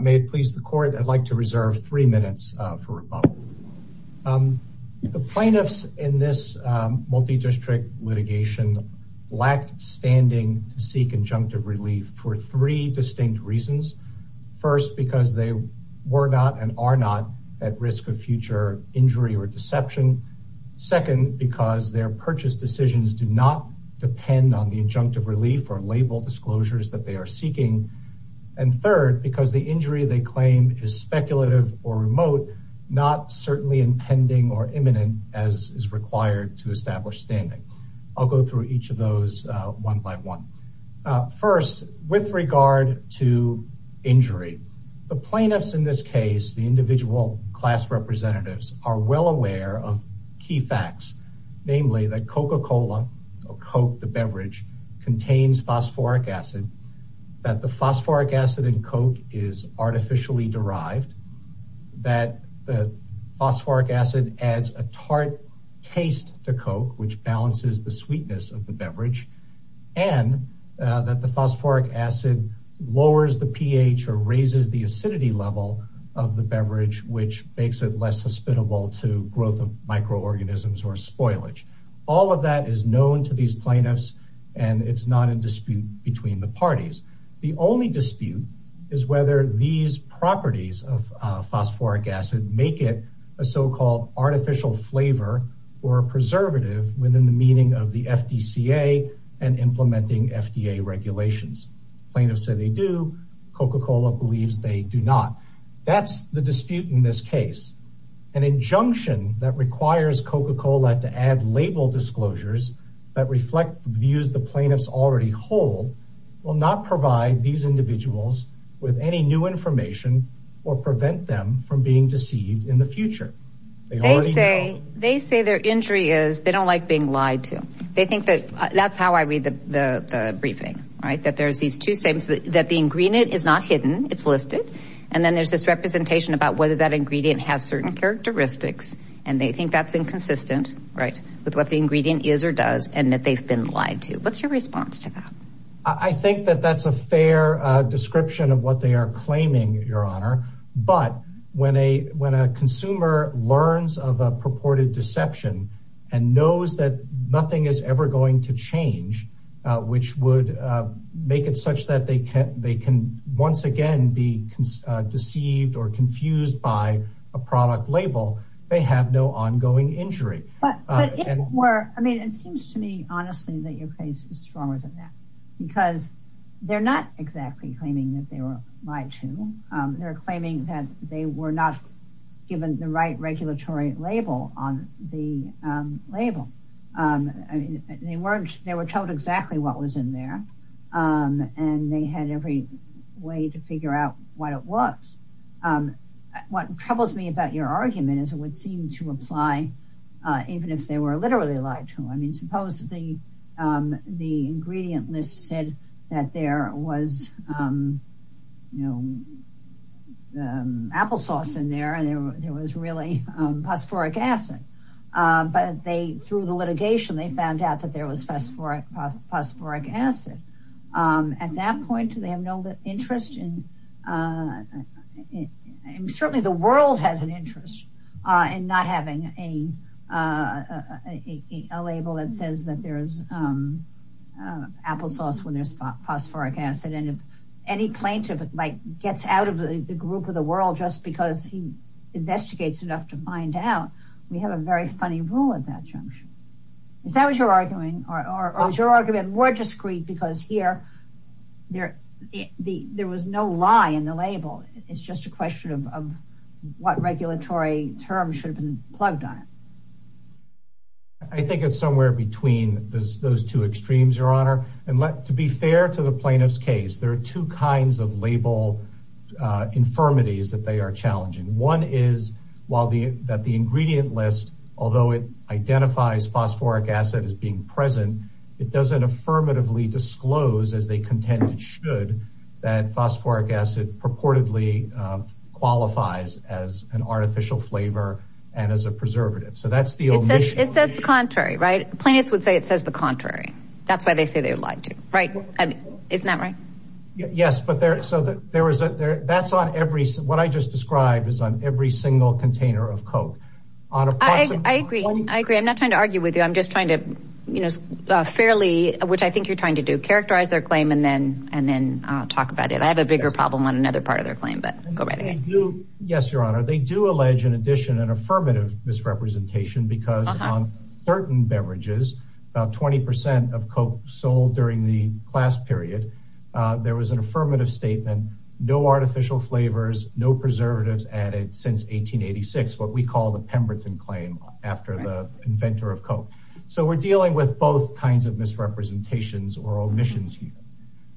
May it please the court, I'd like to reserve three minutes for rebuttal. The plaintiffs in this multi-district litigation lacked standing to seek injunctive relief for three distinct reasons. First, because they were not and are not at risk of future injury or deception. Second, because their purchase decisions do not depend on the injunctive relief or label disclosures that they are seeking. And third, because the injury they claim is speculative or remote, not certainly impending or imminent as is required to establish standing. I'll go through each of those one by one. First, with regard to injury, the plaintiffs in this case, the individual class representatives, are well aware of key facts, namely that Coca-Cola or Coke, the beverage, contains phosphoric acid, that the phosphoric acid in Coke is artificially derived, that the phosphoric acid adds a tart taste to Coke, which balances the sweetness of the beverage, and that the phosphoric acid lowers the pH or raises the acidity level of the beverage, which makes it less susceptible to growth of microorganisms or spoilage. All of that is known to these plaintiffs and it's not in dispute between the parties. The only dispute is whether these properties of phosphoric acid make it a so-called artificial flavor or a preservative within the meaning of the FDCA and implementing FDA regulations. Plaintiffs say they do. Coca-Cola believes they do not. That's the dispute in this case. An injunction that requires Coca-Cola to add label disclosures that reflect views the plaintiffs already hold will not provide these individuals with any new information or prevent them from being deceived in the future. They say their injury is they don't like being lied to. That's how I read the briefing, right? That there's these two statements that the ingredient is not hidden, it's listed, and then there's this representation about whether that ingredient has certain characteristics and they think that's inconsistent, right, with what the ingredient is or does and that they've been lied to. What's your response to that? I think that that's a fair description of what they are claiming, your honor, but when a consumer learns of a purported deception and knows that nothing is ever going to change, which would make it such that they can once again be deceived or confused by a product label, they have no ongoing injury. It seems to me honestly that your case is stronger than that because they're not exactly claiming that they were lied to. They're claiming that they were not given the right regulatory label on the label. They weren't, they were told exactly what was in there and they had every way to figure out what it was. What troubles me about your argument is it would seem to apply even if they were literally lied to. I mean, suppose the ingredient list said that there was applesauce in there and there was really phosphoric acid, but they, through the litigation, they found out that there was phosphoric acid. At that point, they have no interest in, certainly the world has an interest in not having a label that says that there's applesauce when there's phosphoric acid and if any plaintiff gets out of the group of the world just because he investigates enough to find out, we have a very funny rule at that juncture. Is that what you're arguing or is your argument more discreet because here there was no lie in the label. It's just a question of what regulatory terms should have been plugged on it. I think it's somewhere between those two extremes, your honor. To be fair to the plaintiff's case, there are two kinds of label infirmities that they are challenging. One is that the ingredient list, although it identifies phosphoric acid as being present, it doesn't affirmatively disclose, as they contend it should, that phosphoric acid purportedly qualifies as an artificial flavor and as a preservative. So that's the omission. It says the contrary, right? Plaintiffs would say it says the contrary. That's why they say they're lied to, isn't that right? Yes, but what I just described is on every single container of coke. I agree, I agree. I'm not trying to argue with you. I'm just trying to, which I think you're trying to do, characterize their claim and then talk about it. I have a bigger problem on another part of their claim, but go right ahead. Yes, your honor. They do allege in addition an affirmative misrepresentation because on certain beverages, about 20 percent of the class period, there was an affirmative statement, no artificial flavors, no preservatives added since 1886, what we call the Pemberton claim after the inventor of coke. So we're dealing with both kinds of misrepresentations or omissions here.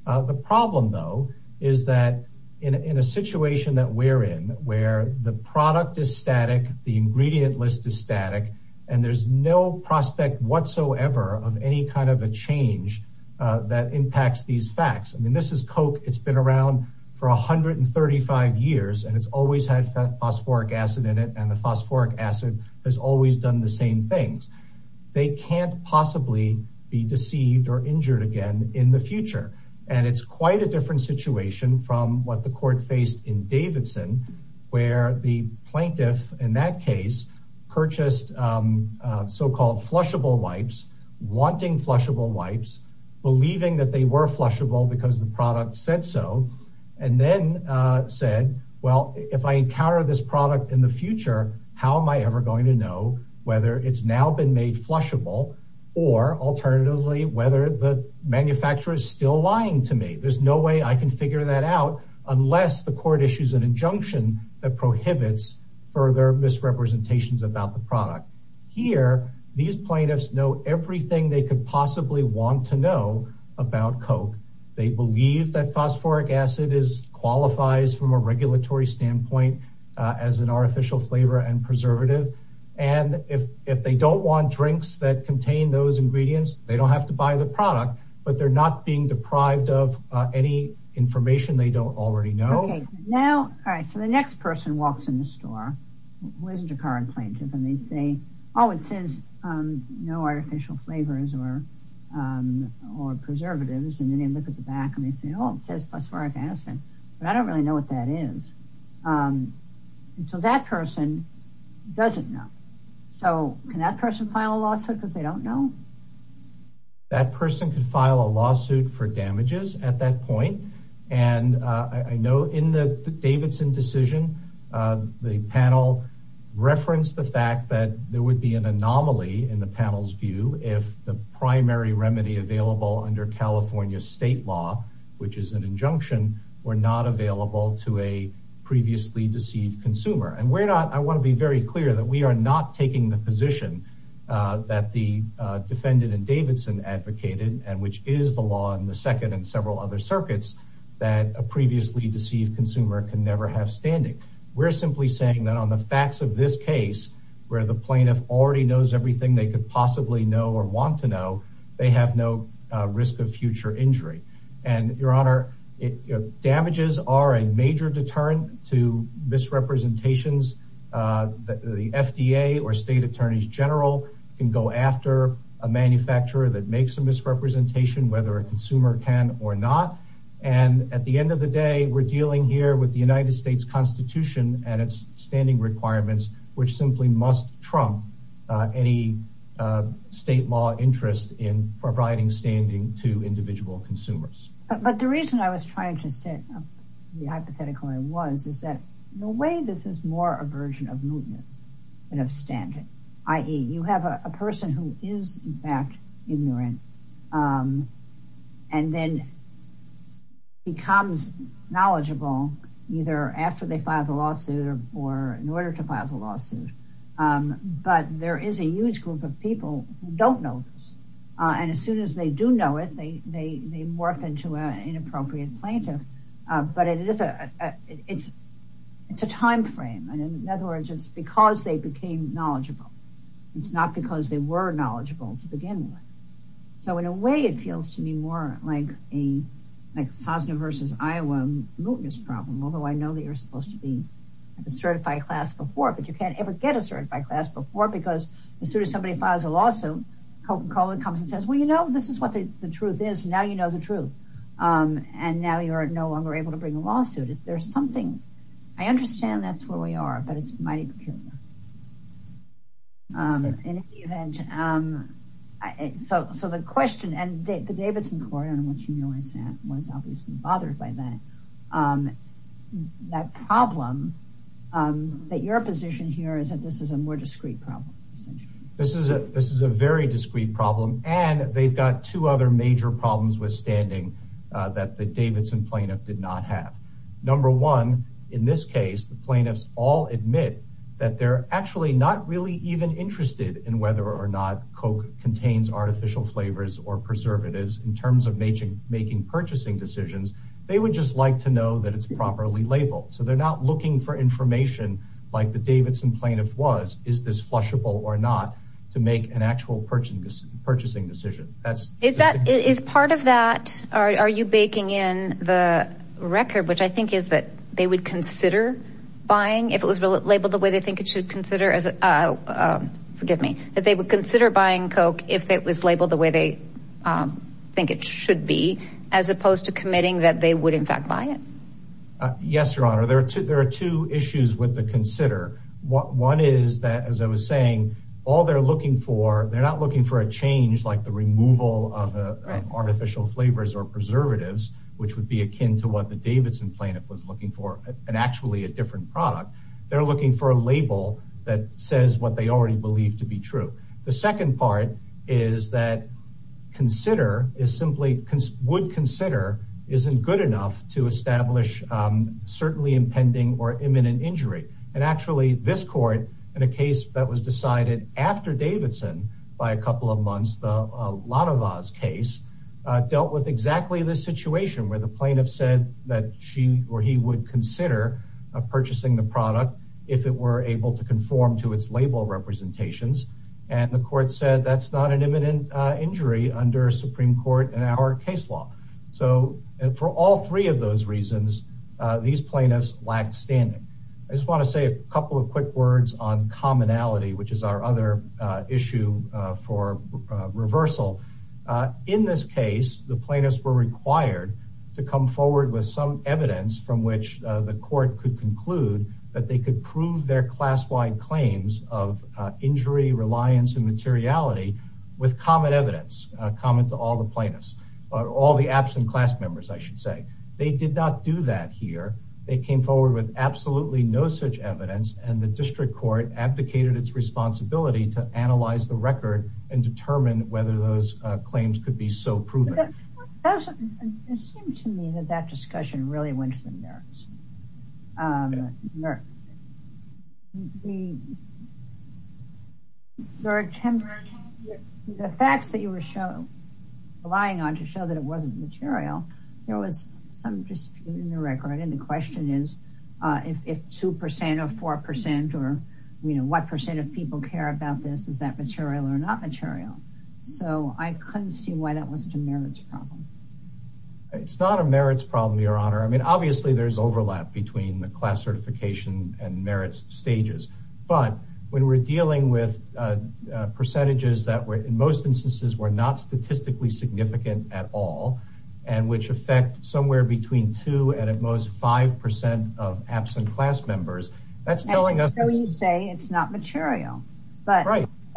The problem though is that in a situation that we're in, where the product is static, the ingredient list is static, and there's no prospect whatsoever of any kind of a change that impacts these facts. I mean, this is coke. It's been around for 135 years, and it's always had phosphoric acid in it, and the phosphoric acid has always done the same things. They can't possibly be deceived or injured again in the future, and it's quite a different situation from what the court faced in Davidson, where the wanting flushable wipes, believing that they were flushable because the product said so, and then said, well, if I encounter this product in the future, how am I ever going to know whether it's now been made flushable, or alternatively, whether the manufacturer is still lying to me. There's no way I can figure that out unless the court issues an injunction that prohibits further misrepresentations about the product. Here, these plaintiffs know everything they could possibly want to know about coke. They believe that phosphoric acid qualifies from a regulatory standpoint as an artificial flavor and preservative, and if they don't want drinks that contain those ingredients, they don't have to buy the product, but they're not being deprived of any information they don't already know. Okay, now, all right, so the next person walks in the store, who isn't a current plaintiff, and they say, oh, it says no artificial flavors or preservatives, and then they look at the back and they say, oh, it says phosphoric acid, but I don't really know what that is, and so that person doesn't know. So, can that person file a lawsuit because they don't know? That person could file a lawsuit for damages at that point, and I know in the Davidson decision, the panel referenced the fact that there would be an anomaly in the panel's view if the primary remedy available under California state law, which is an injunction, were not available to a previously deceived consumer, and we're not, I want to be very clear that we are not taking the position that the defendant in Davidson advocated and which is the law in the second and several other circuits that a previously deceived consumer can never have standing. We're simply saying that on the facts of this case, where the plaintiff already knows everything they could possibly know or want to know, they have no risk of future injury, and your honor, damages are a major deterrent to after a manufacturer that makes a misrepresentation, whether a consumer can or not, and at the end of the day, we're dealing here with the United States Constitution and its standing requirements, which simply must trump any state law interest in providing standing to individual consumers. But the reason I was trying to set up the hypothetical I was is that the way this is more a version of mootness than of standing, i.e. you have a person who is in fact ignorant and then becomes knowledgeable either after they file the lawsuit or in order to file the lawsuit, but there is a huge group of people who don't know this, and as soon as they do know they morph into an inappropriate plaintiff, but it's a time frame, and in other words, it's because they became knowledgeable. It's not because they were knowledgeable to begin with. So in a way, it feels to me more like a Sosna versus Iowa mootness problem, although I know they are supposed to be a certified class before, but you can't ever get a certified class before because as soon as somebody files a lawsuit, Coca-Cola comes and says, well, you know, this is what the truth is, now you know the truth, and now you are no longer able to bring a lawsuit. I understand that's where we are, but it's mighty peculiar. So the question, and the Davidson Court, I don't know if you realize that, was obviously bothered by that. That problem, that your position here is that this is a more discrete problem, essentially. This is a very discrete problem, and they've got two other major problems withstanding that the Davidson plaintiff did not have. Number one, in this case, the plaintiffs all admit that they're actually not really even interested in whether or not Coke contains artificial flavors or preservatives in terms of making purchasing decisions. They would just like to know that it's properly labeled, so they're not looking for information like the Davidson was, is this flushable or not, to make an actual purchasing decision. Is part of that, are you baking in the record, which I think is that they would consider buying if it was labeled the way they think it should consider, forgive me, that they would consider buying Coke if it was labeled the way they think it should be, as opposed to committing that they would in fact buy it. Yes, your honor, there are two issues with the consider. One is that, as I was saying, all they're looking for, they're not looking for a change like the removal of artificial flavors or preservatives, which would be akin to what the Davidson plaintiff was looking for, and actually a different product. They're looking for a label that says what they already believe to be true. The second part is that consider is simply, would consider isn't good enough to establish certainly impending or imminent injury, and actually this court in a case that was decided after Davidson by a couple of months, the Ladova's case, dealt with exactly this situation where the plaintiff said that she or he would consider purchasing the product if it were able to and the court said that's not an imminent injury under Supreme Court and our case law. For all three of those reasons, these plaintiffs lack standing. I just want to say a couple of quick words on commonality, which is our other issue for reversal. In this case, the plaintiffs were required to come forward with some evidence from which the court could conclude that they could prove their class-wide claims of injury, reliance, and materiality with common evidence, common to all the plaintiffs or all the absent class members, I should say. They did not do that here. They came forward with absolutely no such evidence and the district court abdicated its responsibility to analyze the record and determine whether those claims could be so proven. It seemed to me that that discussion really went to the merits. The facts that you were relying on to show that it wasn't material, there was some dispute in the record and the question is if two percent or four percent or you know what percent of people care about this, is that material or not material? So I couldn't see why that wasn't a merits problem. It's not a merits problem, your honor. I mean obviously there's overlap between the class certification and merits stages, but when we're dealing with percentages that were in most instances were not statistically significant at all and which affect somewhere between two and at most five percent of absent class members, that's it's not material.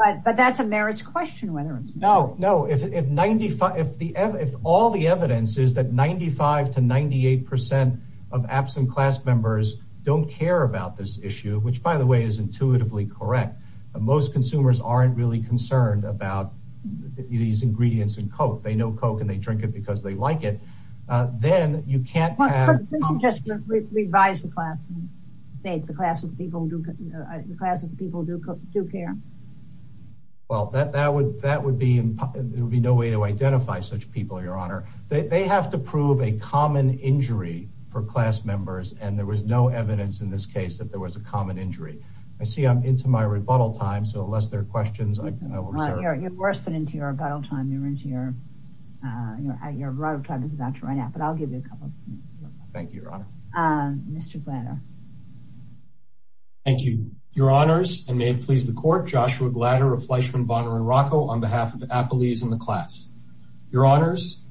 But that's a merits question whether it's material. No, no. If all the evidence is that 95 to 98 percent of absent class members don't care about this issue, which by the way is intuitively correct, most consumers aren't really concerned about these ingredients in Coke. They know Coke and they drink it because they like it. Then you can't have... Let me just revise the class of the people who do care. Well that would be no way to identify such people, your honor. They have to prove a common injury for class members and there was no evidence in this case that there was a common injury. I see I'm into my rebuttal time, so unless there are questions... You're worse than into your rebuttal time. You're into your rebuttal time is about to run out, but I'll give you a couple. Thank you, your honor. Mr. Glatter. Thank you, your honors, and may it please the court, Joshua Glatter of Fleischman, Bonner, and Rocco on behalf of Appelese and the class. Your honors,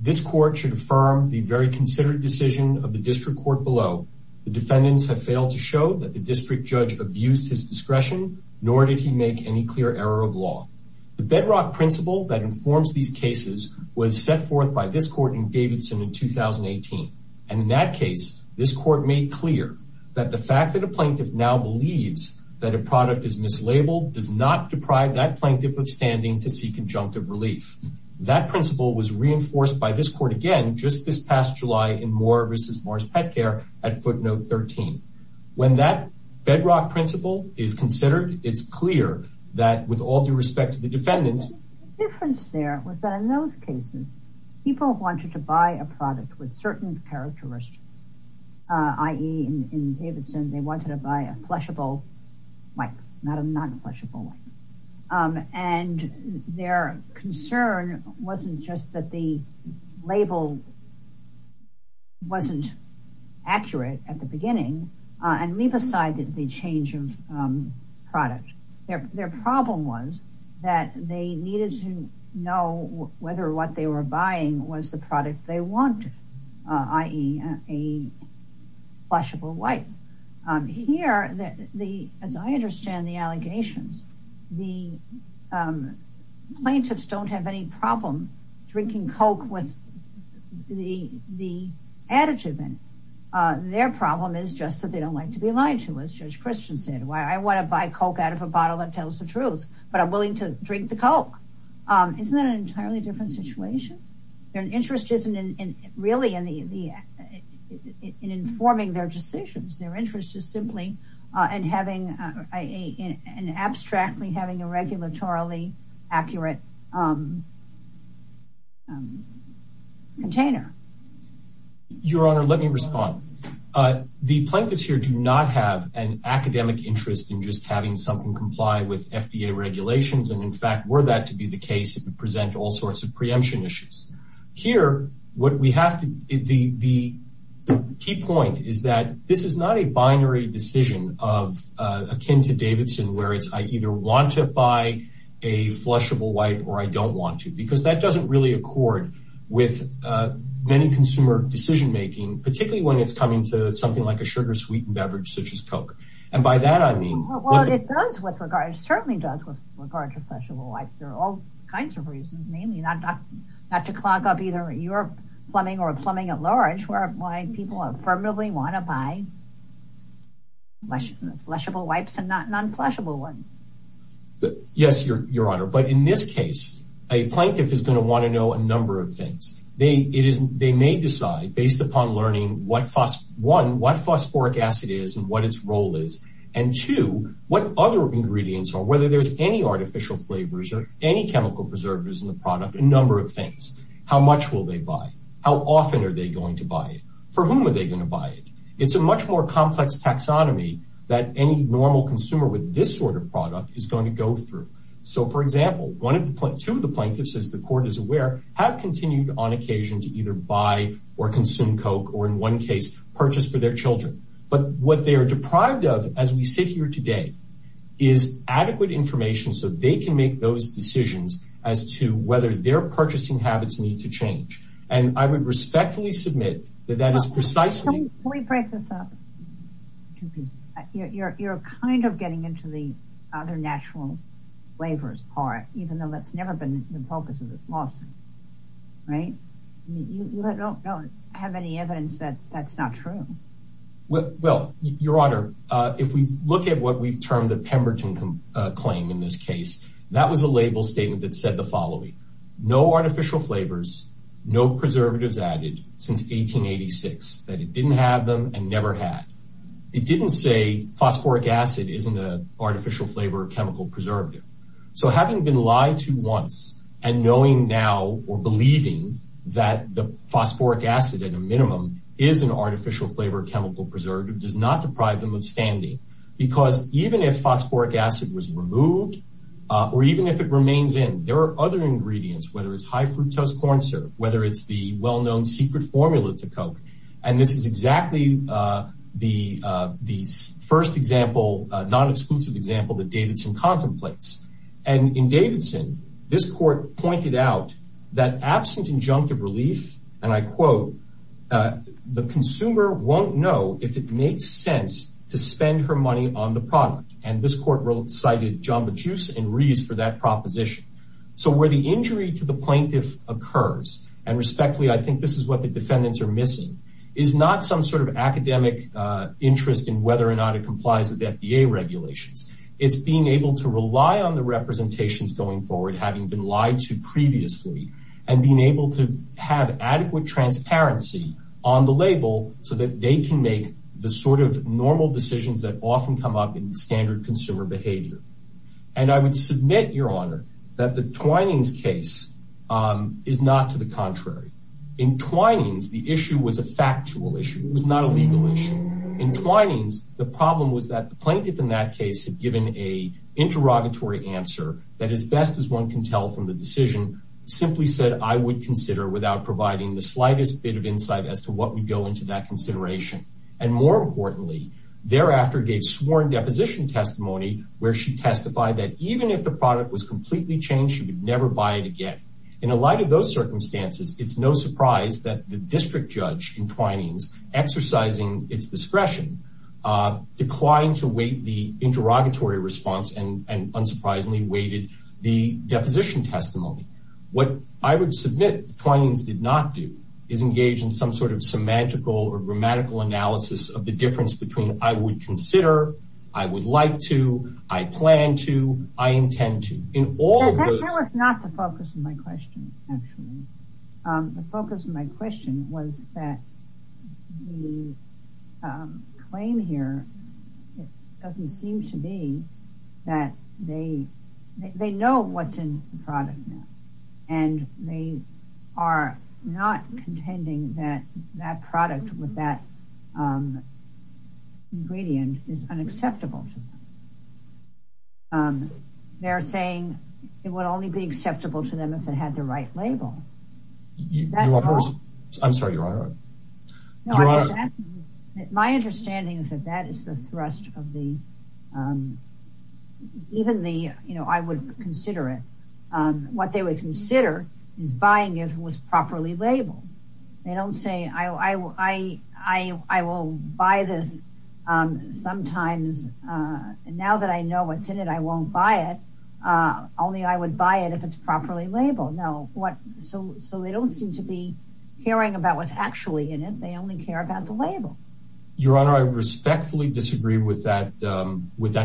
this court should affirm the very considered decision of the district court below. The defendants have failed to show that the district judge abused his discretion, nor did he make any clear error of law. The bedrock principle that informs these cases was set forth by this court in Davidson in 2018, and in that this court made clear that the fact that a plaintiff now believes that a product is mislabeled does not deprive that plaintiff of standing to seek conjunctive relief. That principle was reinforced by this court again just this past July in Moore v. Morris Pet Care at footnote 13. When that bedrock principle is considered, it's clear that with all due respect to the defendants... The difference there was that in those cases, people wanted to buy a product with certain characteristics, i.e. in Davidson, they wanted to buy a plushable wipe, not a non-plushable one, and their concern wasn't just that the label wasn't accurate at the beginning, and leave aside the change of product. Their problem was that they needed to know whether what they were buying was the product they wanted, i.e. a plushable wipe. Here, as I understand the allegations, the plaintiffs don't have any problem drinking coke with the additive in it. Their problem is just that they don't like to be lied to, as Judge Christian said. Why, I want to buy coke out of a bottle that tells the truth, but I'm willing to drink the coke. Isn't that an entirely different situation? Their interest isn't in informing their decisions. Their interest is simply in abstractly having a regulatorily accurate container. Your Honor, let me respond. The plaintiffs here do not have an academic interest in just having something comply with FDA regulations. In fact, were that to be the case, it would present all sorts of preemption issues. Here, the key point is that this is not a binary decision akin to Davidson, where it's, I either want to buy a flushable wipe or I don't want to, because that doesn't really accord with many consumer decision-making, particularly when it's something like a sugar-sweetened beverage such as coke. It certainly does with regard to flushable wipes. There are all kinds of reasons, namely, not to clog up either your plumbing or plumbing at large. Why, people affirmatively want to buy flushable wipes and not non-flushable ones. Yes, Your Honor, but in this case, a plaintiff is going to want to know a number of things. They may decide based upon learning, one, what phosphoric acid is and what its role is, and two, what other ingredients are, whether there's any artificial flavors or any chemical preservatives in the product, a number of things. How much will they buy? How often are they going to buy it? For whom are they going to buy it? It's a much more complex taxonomy that any normal consumer with this sort of product is going to go through. For example, two of the plaintiffs, as the court is aware, have continued on occasion to either buy or consume coke, or in one case, purchase for their children. But what they are deprived of as we sit here today is adequate information so they can make those decisions as to whether their purchasing habits need to change. And I would respectfully submit that that is precisely- Can we break this up? You're kind of getting into the other natural flavors part, even though that's never been the focus of this lawsuit, right? You don't have any evidence that that's not true. Well, Your Honor, if we look at what we've termed the Pemberton claim in this case, that was a label statement that said the following, no artificial flavors, no preservatives added since 1886, that it didn't have them and never had. It didn't say phosphoric acid isn't an artificial flavor or chemical preservative. So having been lied to once and knowing now or believing that the phosphoric acid at a minimum is an artificial flavor chemical preservative does not deprive them of standing. Because even if phosphoric acid was removed, or even if it remains in, there are other ingredients, whether it's high fructose corn syrup, whether it's the well-known secret formula to coke. And this is exactly the first example, non-exclusive example, that Davidson contemplates. And in Davidson, this court pointed out that absent injunctive relief, and I quote, the consumer won't know if it makes sense to spend her money on the product. And this court cited Jamba Juice and Reese for that proposition. So where the injury to the plaintiff occurs, and respectfully, I think this is what the defendants are missing, is not some sort of academic interest in whether or not it complies with FDA regulations. It's being able to rely on the representations going forward, having been lied to previously, and being able to have adequate transparency on the label so that they can make the sort of normal decisions that often come up in standard consumer behavior. And I would submit, Your Honor, that the Twining's case is not to the contrary. In Twining's, the issue was a factual issue. It was not a legal issue. In Twining's, the problem was that the plaintiff in that case had given a interrogatory answer that, as best as one can tell from the decision, simply said, I would consider without providing the slightest bit of insight as to what would go into that consideration. And more importantly, thereafter gave sworn deposition testimony where she testified that even if the product was in a light of those circumstances, it's no surprise that the district judge in Twining's exercising its discretion declined to wait the interrogatory response and unsurprisingly waited the deposition testimony. What I would submit Twining's did not do is engage in some sort of semantical or grammatical analysis of the difference between I would consider, I would like to, I plan to, I intend to. In all of those... That was not the focus of my question, actually. The focus of my question was that the claim here doesn't seem to be that they know what's in the product now and they are not contending that that product with that ingredient is unacceptable to them. They are saying it would only be acceptable to them if it had the right label. I'm sorry, Your Honor. My understanding is that that is the thrust of the... Even the, you know, I would consider it. What they would consider is buying if it was properly labeled. They don't say I will buy this sometimes. Now that I know what's in it, I won't buy it. Only I would buy it if it's properly labeled. No. So they don't seem to be caring about what's actually in it. They only care about the label. Your Honor, I respectfully disagree with that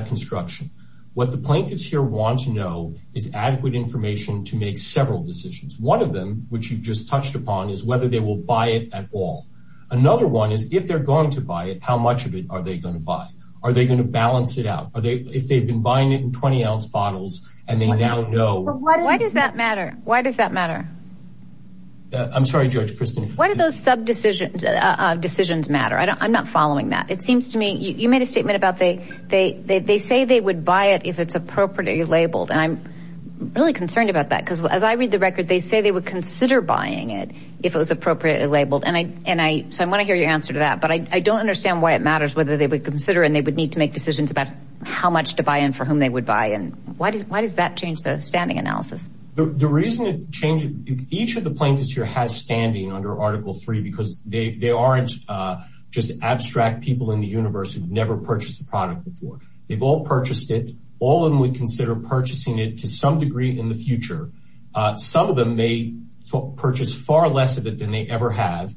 construction. What the plaintiffs here want to know is adequate information to make several decisions. One of them, which you just touched upon, is whether they will buy it at all. Another one is if they're going to buy it, how much of it are they going to buy? Are they going to balance it out? Are they... If they've been buying it in 20-ounce bottles and they now know... Why does that matter? Why does that matter? I'm sorry, Judge Kristen. Why do those sub decisions matter? I'm not following that. It seems to me... You made a statement about they say they would buy it if it's appropriately labeled. And I'm really concerned about that. Because as I read the record, they say they would consider buying it if it was appropriately labeled. So I want to hear your answer to that. But I don't understand why it matters whether they would consider and they would need to make decisions about how much to buy and for whom they would buy. And why does that change the standing analysis? The reason it changes... Each of the plaintiffs here has standing under Article III because they aren't just abstract people in the universe who've never purchased the product before. They've all purchased it. All of them would consider purchasing it to some degree in the future. Some of them may purchase far less of it than they ever have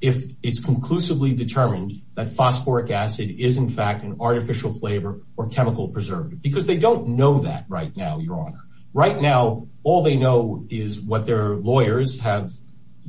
if it's conclusively determined that phosphoric acid is in fact an artificial flavor or chemical preservative. Because they don't know that right now, Your Honor. Right now, all they know is what their lawyers have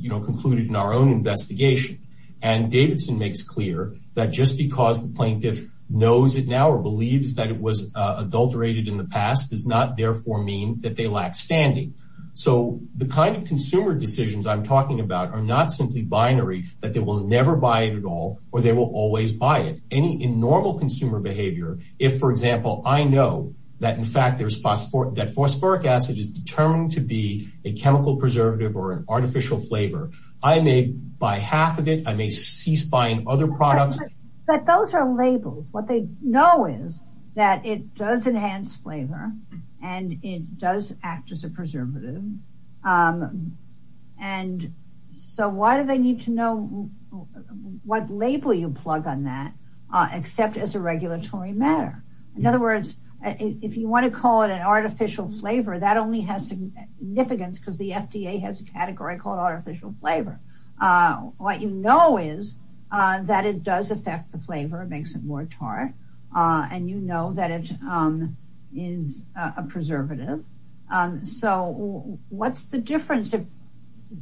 concluded in our own investigation. And Davidson makes clear that just because the plaintiff knows it now or believes that it was adulterated in the past does not therefore mean that they lack standing. So the kind of consumer decisions I'm talking about are not simply binary, that they will never buy it at all or they will always buy it. Any normal consumer behavior, if for example, I know that in fact that phosphoric acid is determined to be a chemical preservative or an artificial flavor, I may buy half of it. I may cease buying other products. But those are labels. What they know is that it does enhance flavor and it does act as a preservative. And so why do they need to know what label you plug on that except as a regulatory matter? In other words, if you want to call it an artificial flavor, that only has significance because the FDA has a category called artificial flavor. What you know is that it does affect the flavor. It makes it more tart. And you know that it is a preservative. So what's the difference if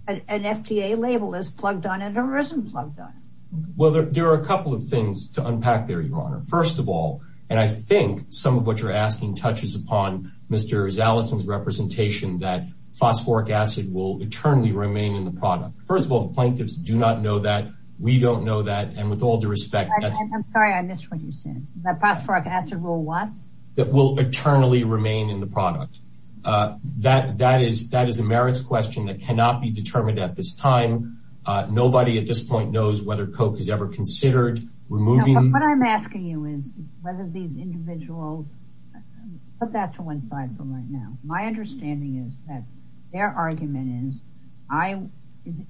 an FDA label is plugged on and isn't plugged on? Well, there are a couple of things to unpack there, Your Honor. First of all, and I think some of what you're asking touches upon Mr. Fischer's point, that phosphoric acid will eternally remain in the product. First of all, the plaintiffs do not know that. We don't know that. And with all due respect, I'm sorry, I missed what you said. That phosphoric acid will what? That will eternally remain in the product. That is a merits question that cannot be determined at this time. Nobody at this point knows whether Coke is ever considered removing. What I'm asking you is whether these individuals, put that to one side for right now. My understanding is that their argument is,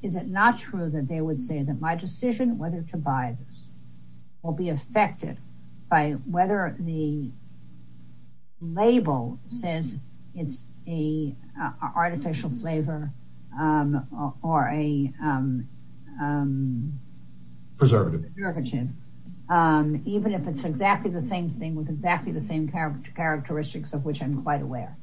is it not true that they would say that my decision whether to buy this will be affected by whether the label says it's an artificial flavor or a preservative, even if it's exactly the same thing with exactly the same characteristics of which I'm quite aware?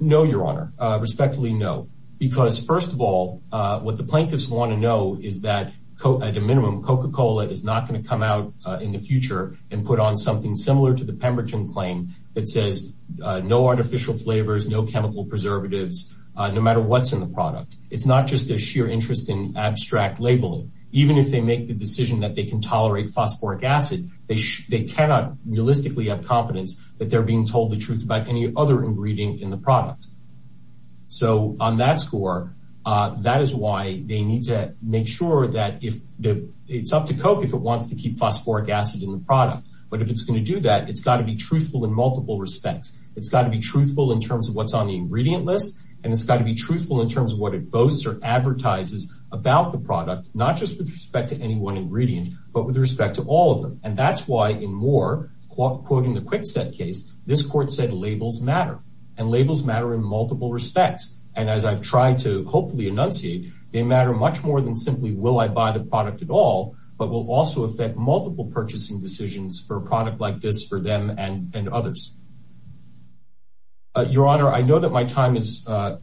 No, Your Honor. Respectfully, no. Because first of all, what the plaintiffs want to know is that at a minimum, Coca-Cola is not going to come out in the future and put on something similar to the Pemberton claim that says no artificial flavors, no chemical preservatives, no matter what's in the product. It's not just their sheer interest in abstract labeling. Even if they make the decision that they can tolerate phosphoric acid, they cannot realistically have confidence that they're being told the truth about any other ingredient in the product. So on that score, that is why they need to make sure that it's up to Coke if it wants to keep phosphoric acid in the product. But if it's going to do that, it's got to be truthful in multiple respects. It's got to be truthful in terms of what's on the ingredient list, and it's got to be truthful in terms of what it boasts or advertises about the product. That's why in Moore, quoting the Kwikset case, this court said labels matter, and labels matter in multiple respects. And as I've tried to hopefully enunciate, they matter much more than simply will I buy the product at all, but will also affect multiple purchasing decisions for a product like this for them and others. Your Honor, I know that my time is starting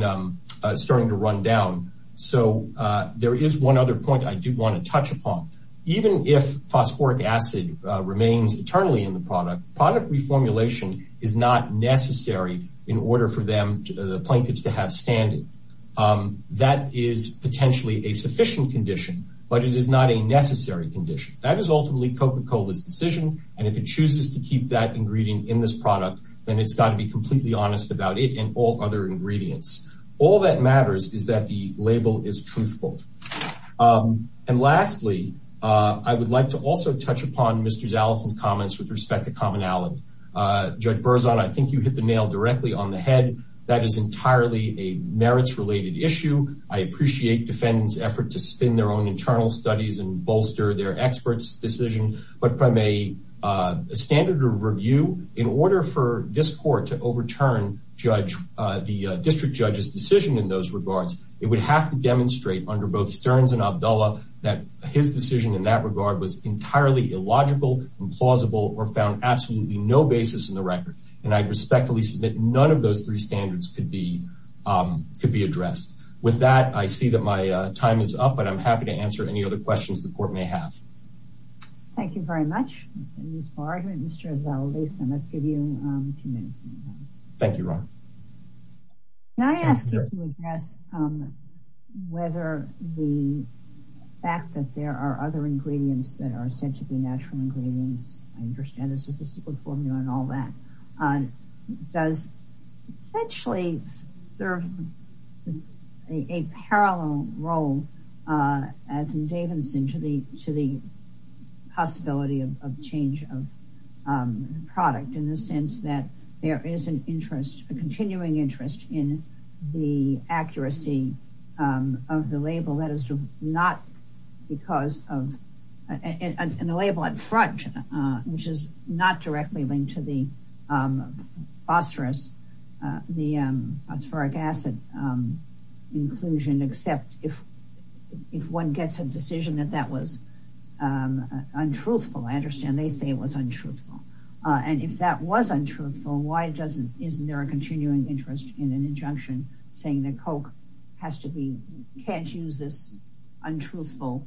to run down. So there is one other point I do want to touch upon. Even if phosphoric acid remains eternally in the product, product reformulation is not necessary in order for the plaintiffs to have standing. That is potentially a sufficient condition, but it is not a necessary condition. That is ultimately Coca-Cola's decision, and if it chooses to keep that ingredient in this product, then it's got to be completely honest about it and all other ingredients. All that matters is that the label is truthful. And lastly, I would like to also touch upon Mr. Zaleson's comments with respect to commonality. Judge Berzon, I think you hit the nail directly on the head. That is entirely a merits-related issue. I appreciate defendants' effort to spin their own internal studies and bolster their experts' decision, but from a standard of review, in order for this court to overturn the district judge's decision in those regards, it would have to demonstrate under both Stearns and Abdullah that his decision in that regard was entirely illogical, implausible, or found absolutely no basis in the record. And I respectfully submit none of those three standards could be addressed. With that, I see that my time is up, but I'm happy to answer any other questions the court may have. Thank you very much, Mr. Zaleson. Let's give you a few minutes. Thank you, Ron. Can I ask you to address whether the fact that there are other ingredients that are said to be natural ingredients, I understand there's a statistical formula and all that, does essentially serve a parallel role, as in Davidson, to the possibility of change of product in the sense that there is an interest, a continuing interest, in the accuracy of the label that is not because of, and the label at front, which is not directly linked to the phosphorus, the phosphoric acid inclusion, except if one gets a decision that that was untruthful. And if that was untruthful, why isn't there a continuing interest in an injunction saying that Coke can't use this untruthful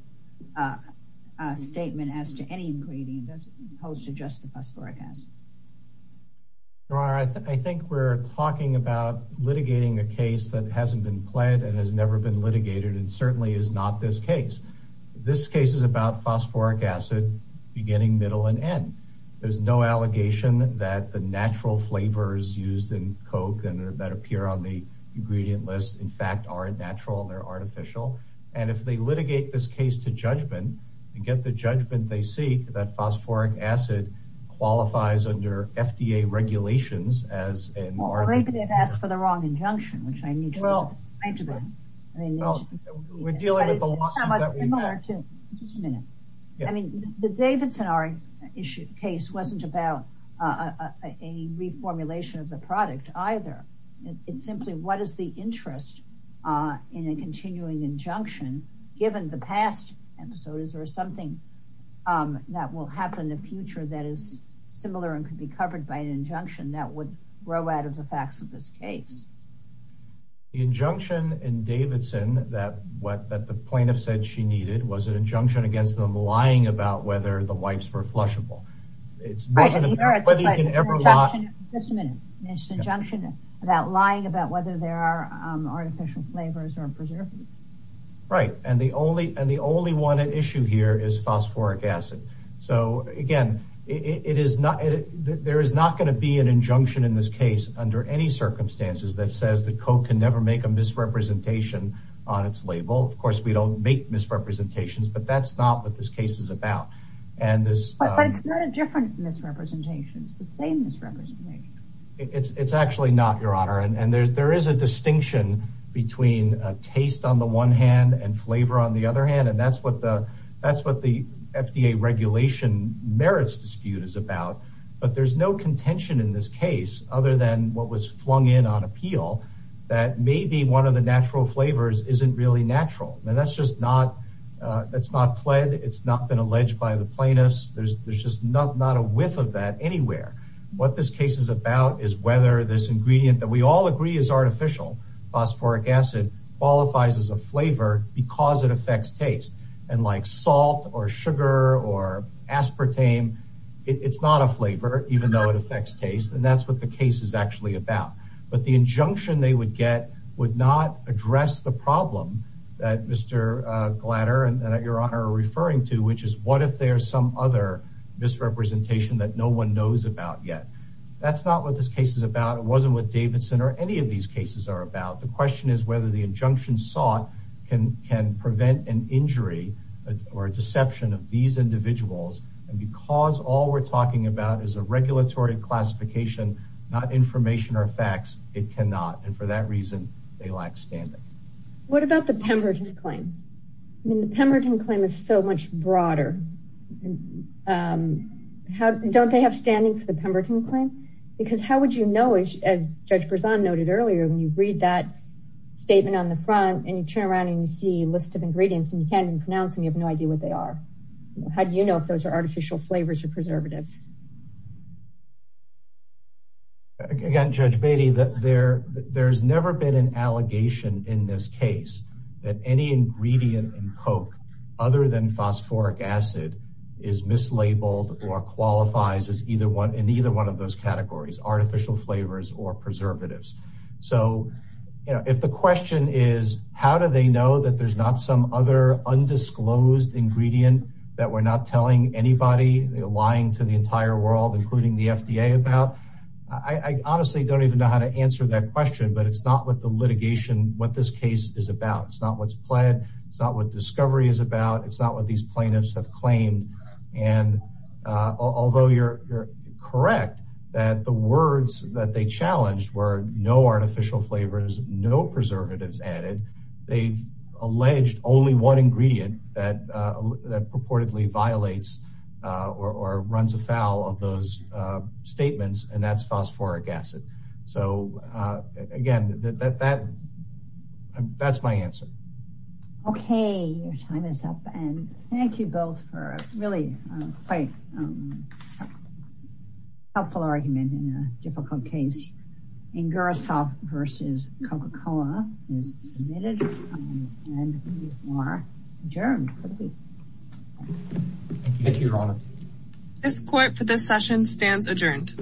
statement as to any ingredient as opposed to just the phosphoric acid? I think we're talking about litigating a case that hasn't been pled and has never been litigated and certainly is not this case. This case is about phosphoric acid beginning, middle, and end. There's no allegation that the natural flavors used in Coke and that appear on the ingredient list, in fact, are natural, they're artificial. And if they litigate this case to judgment, and get the judgment they seek, that phosphoric acid qualifies under FDA regulations as an artificial ingredient. Well, maybe they've asked for the wrong injunction, which I need to look into. Well, we're dealing with the lawsuit that we've had. Just a minute. I mean, the Davidson-Ari case wasn't about a reformulation of the product either. It's simply what is the interest in a continuing injunction given the past episode? Is there something that will happen in the future that is similar and could be that would grow out of the facts of this case? The injunction in Davidson that the plaintiff said she needed was an injunction against them lying about whether the wipes were flushable. It's an injunction about lying about whether there are artificial flavors or preservatives. Right. And the only one at issue here is phosphoric acid. So, again, there is not be an injunction in this case under any circumstances that says that Coke can never make a misrepresentation on its label. Of course, we don't make misrepresentations, but that's not what this case is about. But it's not a different misrepresentation. It's the same misrepresentation. It's actually not, Your Honor. And there is a distinction between taste on the one hand and flavor on the other hand. And that's what the FDA regulation merits dispute is about. But there's no contention in this case other than what was flung in on appeal that maybe one of the natural flavors isn't really natural. And that's just not that's not pled. It's not been alleged by the plaintiffs. There's just not a whiff of that anywhere. What this case is about is whether this ingredient that we all agree is artificial phosphoric acid qualifies as a flavor because it aspartame. It's not a flavor, even though it affects taste. And that's what the case is actually about. But the injunction they would get would not address the problem that Mr. Glatter and Your Honor are referring to, which is what if there's some other misrepresentation that no one knows about yet? That's not what this case is about. It wasn't what Davidson or any of these cases are about. The question is whether the injunction sought can can prevent an injury or a deception of these individuals. And because all we're talking about is a regulatory classification, not information or facts, it cannot. And for that reason, they lack standing. What about the Pemberton claim? I mean, the Pemberton claim is so much broader. Don't they have standing for the Pemberton claim? Because how would you know, as Judge Berzon noted earlier, when you read that statement on the front and you turn around and you see a no idea what they are? How do you know if those are artificial flavors or preservatives? Again, Judge Beatty, there's never been an allegation in this case that any ingredient in Coke other than phosphoric acid is mislabeled or qualifies as either one in either one of those categories, artificial flavors or preservatives. So if the question is, how do they know that there's not some other undisclosed ingredient that we're not telling anybody, lying to the entire world, including the FDA about, I honestly don't even know how to answer that question. But it's not what the litigation, what this case is about. It's not what's pled. It's not what discovery is about. It's not what these plaintiffs have claimed. And although you're correct that the only one ingredient that purportedly violates or runs afoul of those statements, and that's phosphoric acid. So again, that's my answer. Okay, your time is up. And thank you both for really quite a helpful argument in a difficult case. In Gurusov versus Coca-Cola is submitted and you are adjourned. Thank you, Your Honor. This court for this session stands adjourned.